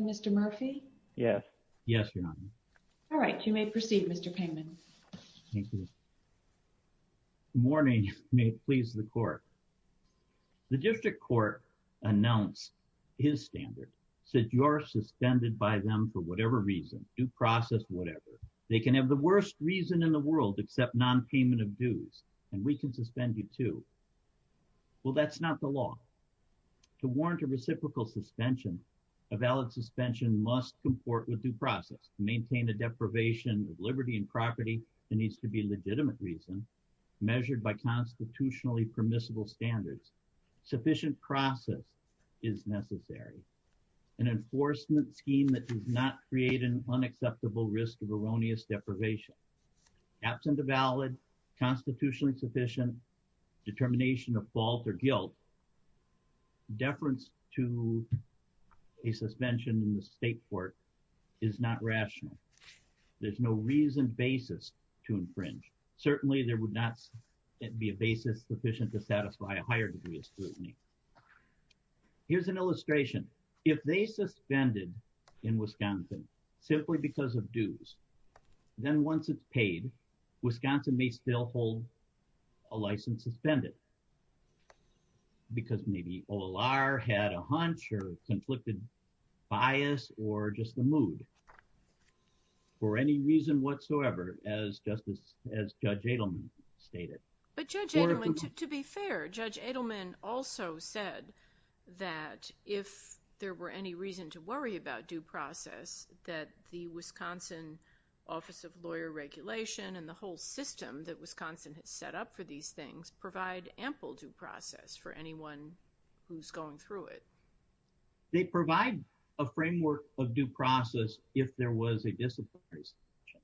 Mr. Murphy Yes. Yes, Your Honor. All right, you may proceed, Mr. Pangman. Thank you. The district court announced his standard said you're suspended by them for whatever reason due process, whatever they can have the worst reason in the world except non payment of dues, and we can suspend you to. Well, that's not the law. To warrant a reciprocal suspension, a valid suspension must comport with due process, maintain a deprivation of liberty and property that needs to be legitimate reason, measured by constitutionally permissible standards, sufficient process is necessary. An enforcement scheme that does not create an unacceptable risk of erroneous deprivation. Absent a valid constitutionally sufficient determination of fault or guilt, deference to a suspension in the state court is not rational. There's no reason basis to infringe. Certainly there would not be a basis sufficient to satisfy a higher degree of scrutiny. Here's an illustration. If they suspended in Wisconsin, simply because of dues, then once it's paid, Wisconsin may still hold a license suspended. Because maybe OLR had a hunch or conflicted bias or just the mood. For any reason whatsoever, as Justice, as Judge Adelman stated. But Judge Adelman, to be fair, Judge Adelman also said that if there were any reason to worry about due process, that the Wisconsin Office of Lawyer Regulation and the whole system that Wisconsin has set up for these things provide ample due process for anyone who's going through it. They provide a framework of due process if there was a disciplinary situation.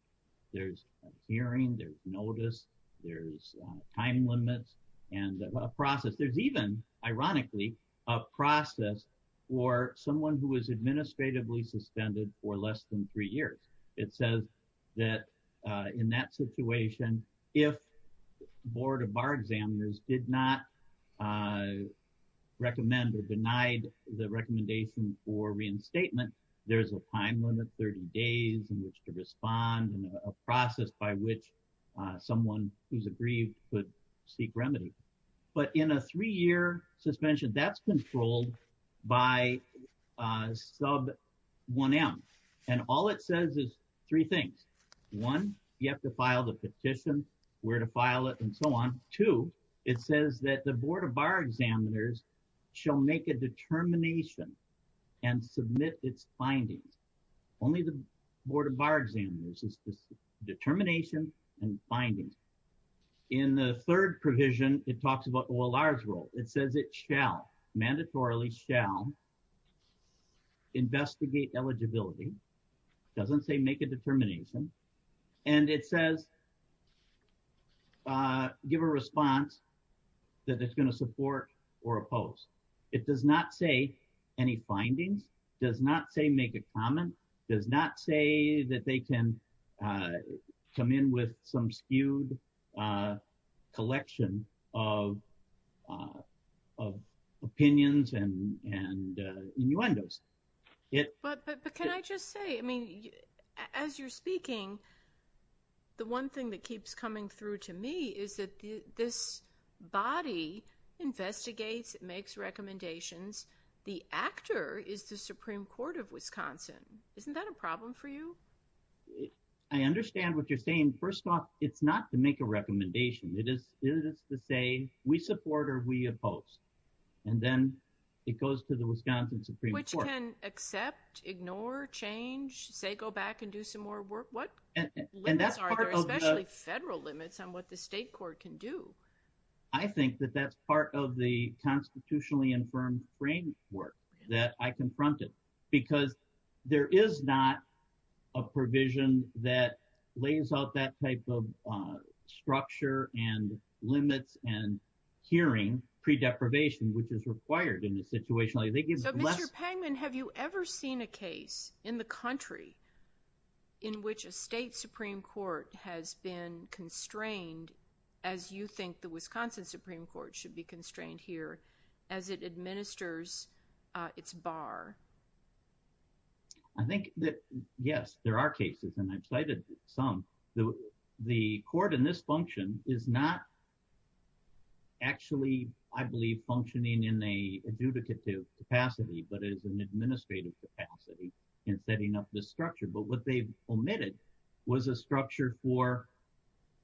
There's a hearing, there's notice, there's time limits, and a process. There's even, ironically, a process for someone who is administratively suspended for less than three years. It says that in that situation, if the Board of Bar Examiners did not recommend or denied the recommendation for reinstatement, there's a time limit, 30 days in which to respond, and a process by which someone who's aggrieved could seek remedy. But in a three-year suspension, that's controlled by Sub 1M. And all it says is three things. One, you have to file the petition, where to file it, and so on. Two, it says that the Board of Bar Examiners shall make a determination and submit its findings. Only the Board of Bar Examiners is the determination and findings. In the third provision, it talks about OLR's role. It says it shall, mandatorily shall, investigate eligibility. It doesn't say make a determination. And it says give a response that it's going to support or oppose. It does not say any findings, does not say make a comment, does not say that they can come in with some skewed collection of opinions and innuendos. But can I just say, I mean, as you're speaking, the one thing that keeps coming through to me is that this body investigates, it makes recommendations, the actor is the Supreme Court of Wisconsin. Isn't that a problem for you? I understand what you're saying. First off, it's not to make a recommendation. It is to say we support or we oppose. And then it goes to the Wisconsin Supreme Court. Which can accept, ignore, change, say go back and do some more work? What limits are there, especially federal limits on what the state court can do? I think that that's part of the constitutionally infirmed framework that I confronted. Because there is not a provision that lays out that type of structure and limits and hearing pre-deprivation, which is required in this situation. So, Mr. Pangman, have you ever seen a case in the country in which a state Supreme Court has been constrained, as you think the Wisconsin Supreme Court should be constrained here, as it administers its bar? I think that, yes, there are cases, and I've cited some. The court in this function is not actually, I believe, functioning in an adjudicative capacity, but it is an administrative capacity in setting up this structure. But what they omitted was a structure for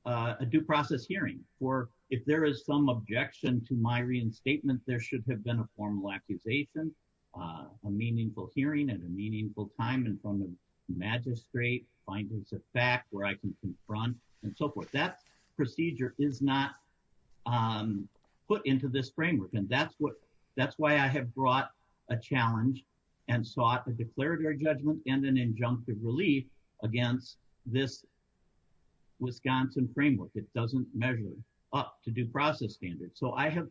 a due process hearing. For if there is some objection to my reinstatement, there should have been a formal accusation, a meaningful hearing at a meaningful time, and from the magistrate, findings of fact, where I can confront, and so forth. That procedure is not put into this framework, and that's why I have brought a challenge and sought a declaratory judgment and an injunctive relief against this Wisconsin framework. It doesn't measure up to due process standards. So I have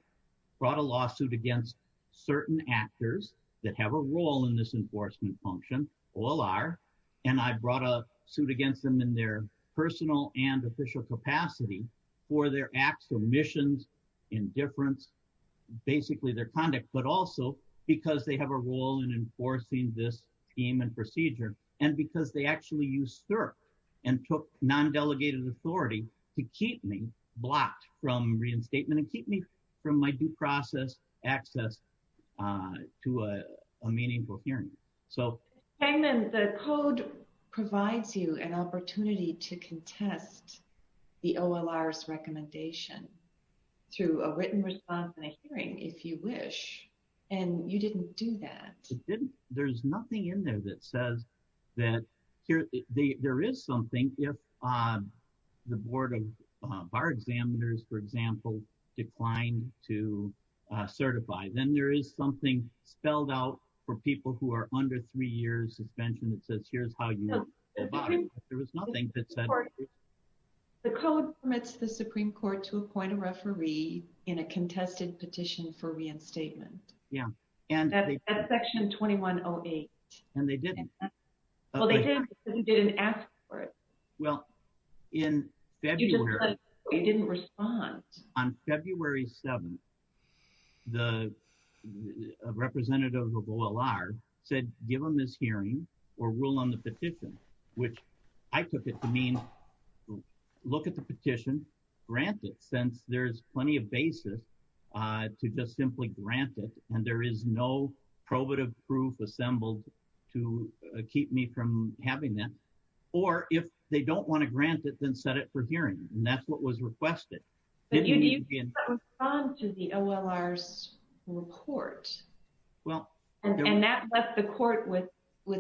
brought a lawsuit against certain actors that have a role in this enforcement function. All are. And I brought a suit against them in their personal and official capacity for their acts, omissions, indifference, basically their conduct, but also because they have a role in enforcing this scheme and procedure. And because they actually used STIRP and took non-delegated authority to keep me blocked from reinstatement and keep me from my due process access to a meaningful hearing. The code provides you an opportunity to contest the OLR's recommendation through a written response and a hearing, if you wish, and you didn't do that. There's nothing in there that says that there is something if the Board of Bar Examiners, for example, declined to certify. Then there is something spelled out for people who are under three years suspension that says here's how you abide. There was nothing that said... The code permits the Supreme Court to appoint a referee in a contested petition for reinstatement. Yeah. That's section 2108. And they didn't. Well, they did because you didn't ask for it. Well, in February... You didn't respond. On February 7th, the representative of OLR said give him this hearing or rule on the petition, which I took it to mean look at the petition, grant it, since there's plenty of basis to just simply grant it and there is no probative proof assembled to keep me from having that. Or if they don't want to grant it, then set it for hearing. And that's what was requested. But you didn't respond to the OLR's report. Well... And that left the court with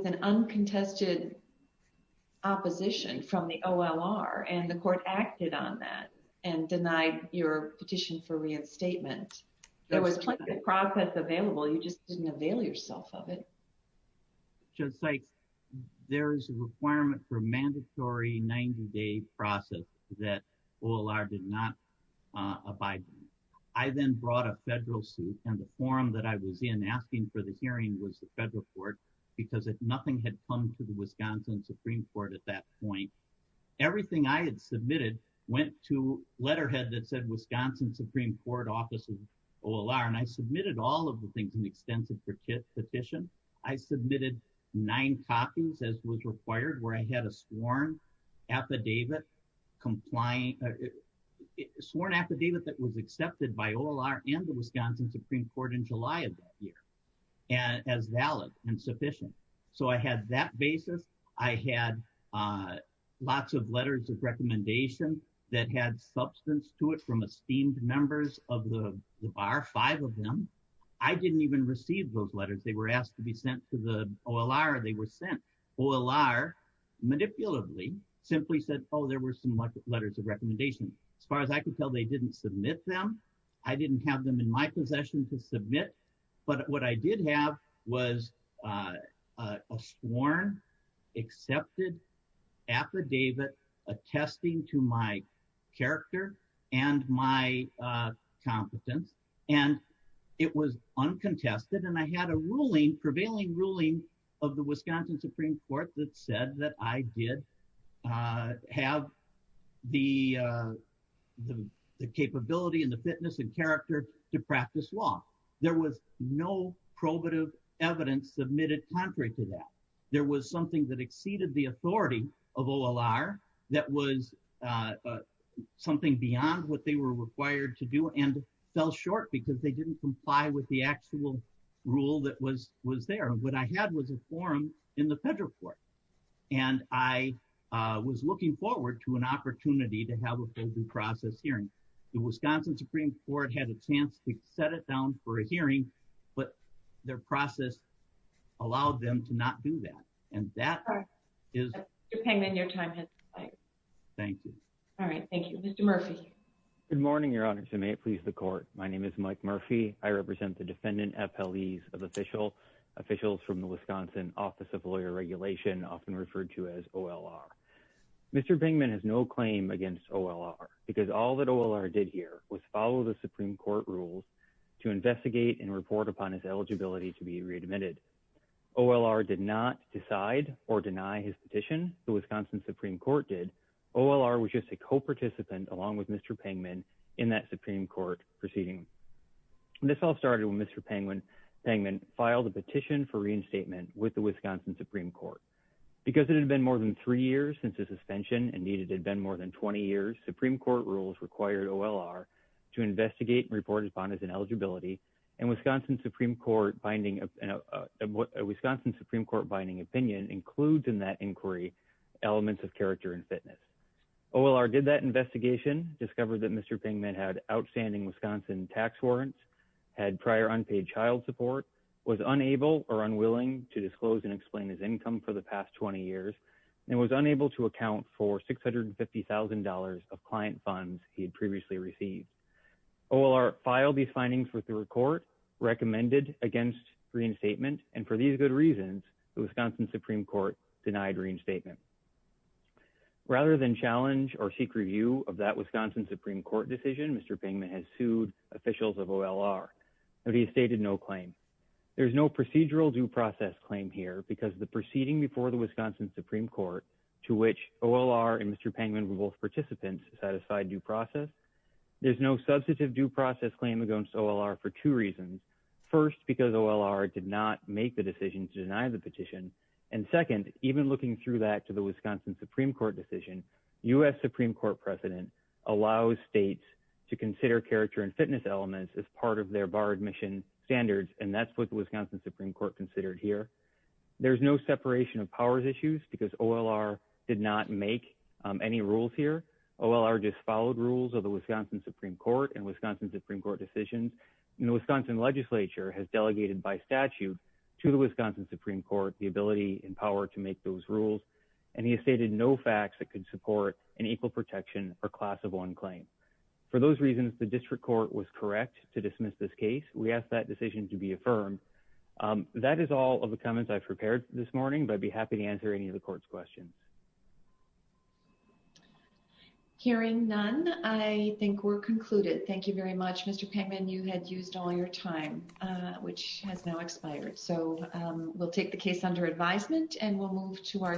an uncontested opposition from the OLR and the court acted on that and denied your petition for reinstatement. There was plenty of process available. You just didn't avail yourself of it. Judge Sykes, there is a requirement for mandatory 90-day process that OLR did not abide by. I then brought a federal suit and the forum that I was in asking for the hearing was the federal court because nothing had come to the Wisconsin Supreme Court at that point. Everything I had submitted went to letterhead that said Wisconsin Supreme Court Office of OLR and I submitted all of the things in the extensive petition. I submitted nine copies as was required where I had a sworn affidavit that was accepted by OLR and the Wisconsin Supreme Court in July of that year as valid and sufficient. So I had that basis. I had lots of letters of recommendation that had substance to it from esteemed members of the bar, five of them. I didn't even receive those letters. They were asked to be sent to the OLR. They were sent. OLR, manipulatively, simply said, oh, there were some letters of recommendation. As far as I could tell, they didn't submit them. I didn't have them in my possession to submit. But what I did have was a sworn accepted affidavit attesting to my character and my competence. And it was uncontested and I had a ruling, prevailing ruling of the Wisconsin Supreme Court that said that I did have the capability and the fitness and character to practice law. There was no probative evidence submitted contrary to that. There was something that exceeded the authority of OLR that was something beyond what they were required to do and fell short because they didn't comply with the actual rule that was there. What I had was a forum in the federal court. And I was looking forward to an opportunity to have a open process hearing. The Wisconsin Supreme Court had a chance to set it down for a hearing, but their process allowed them to not do that. And that is. Mr. Pingman, your time has expired. Thank you. All right, thank you. Mr. Murphy. Good morning, Your Honor, and may it please the court. My name is Mike Murphy. I represent the defendant FLEs of officials, officials from the Wisconsin Office of Lawyer Regulation, often referred to as OLR. Mr. Pingman has no claim against OLR because all that OLR did here was follow the Supreme Court rules to investigate and report upon his eligibility to be readmitted. OLR did not decide or deny his petition. The Wisconsin Supreme Court did. OLR was just a co-participant along with Mr. Pingman in that Supreme Court proceeding. This all started when Mr. Pingman filed a petition for reinstatement with the Wisconsin Supreme Court. Because it had been more than three years since his suspension, and, indeed, it had been more than 20 years, Supreme Court rules required OLR to investigate and report upon his ineligibility. And a Wisconsin Supreme Court binding opinion includes in that inquiry elements of character and fitness. OLR did that investigation, discovered that Mr. Pingman had outstanding Wisconsin tax warrants, had prior unpaid child support, was unable or unwilling to disclose and explain his income for the past 20 years, and was unable to account for $650,000 of client funds he had previously received. OLR filed these findings with the court, recommended against reinstatement, and for these good reasons, the Wisconsin Supreme Court denied reinstatement. Rather than challenge or seek review of that Wisconsin Supreme Court decision, Mr. Pingman has sued officials of OLR, but he's stated no claim. There's no procedural due process claim here because the proceeding before the Wisconsin Supreme Court, to which OLR and Mr. Pingman were both participants, satisfied due process. There's no substantive due process claim against OLR for two reasons. First, because OLR did not make the decision to deny the petition. And second, even looking through that to the Wisconsin Supreme Court decision, U.S. Supreme Court precedent allows states to consider character and fitness elements as part of their bar admission standards, and that's what the Wisconsin Supreme Court considered here. There's no separation of powers issues because OLR did not make any rules here. OLR just followed rules of the Wisconsin Supreme Court and Wisconsin Supreme Court decisions. And the Wisconsin legislature has delegated by statute to the Wisconsin Supreme Court the ability and power to make those rules. And he has stated no facts that could support an equal protection or class of one claim. For those reasons, the district court was correct to dismiss this case. We ask that decision to be affirmed. That is all of the comments I've prepared this morning, but I'd be happy to answer any of the court's questions. Hearing none, I think we're concluded. Thank you very much, Mr. Pingman. You had used all your time, which has now expired. So we'll take the case under advisement and we'll move to our.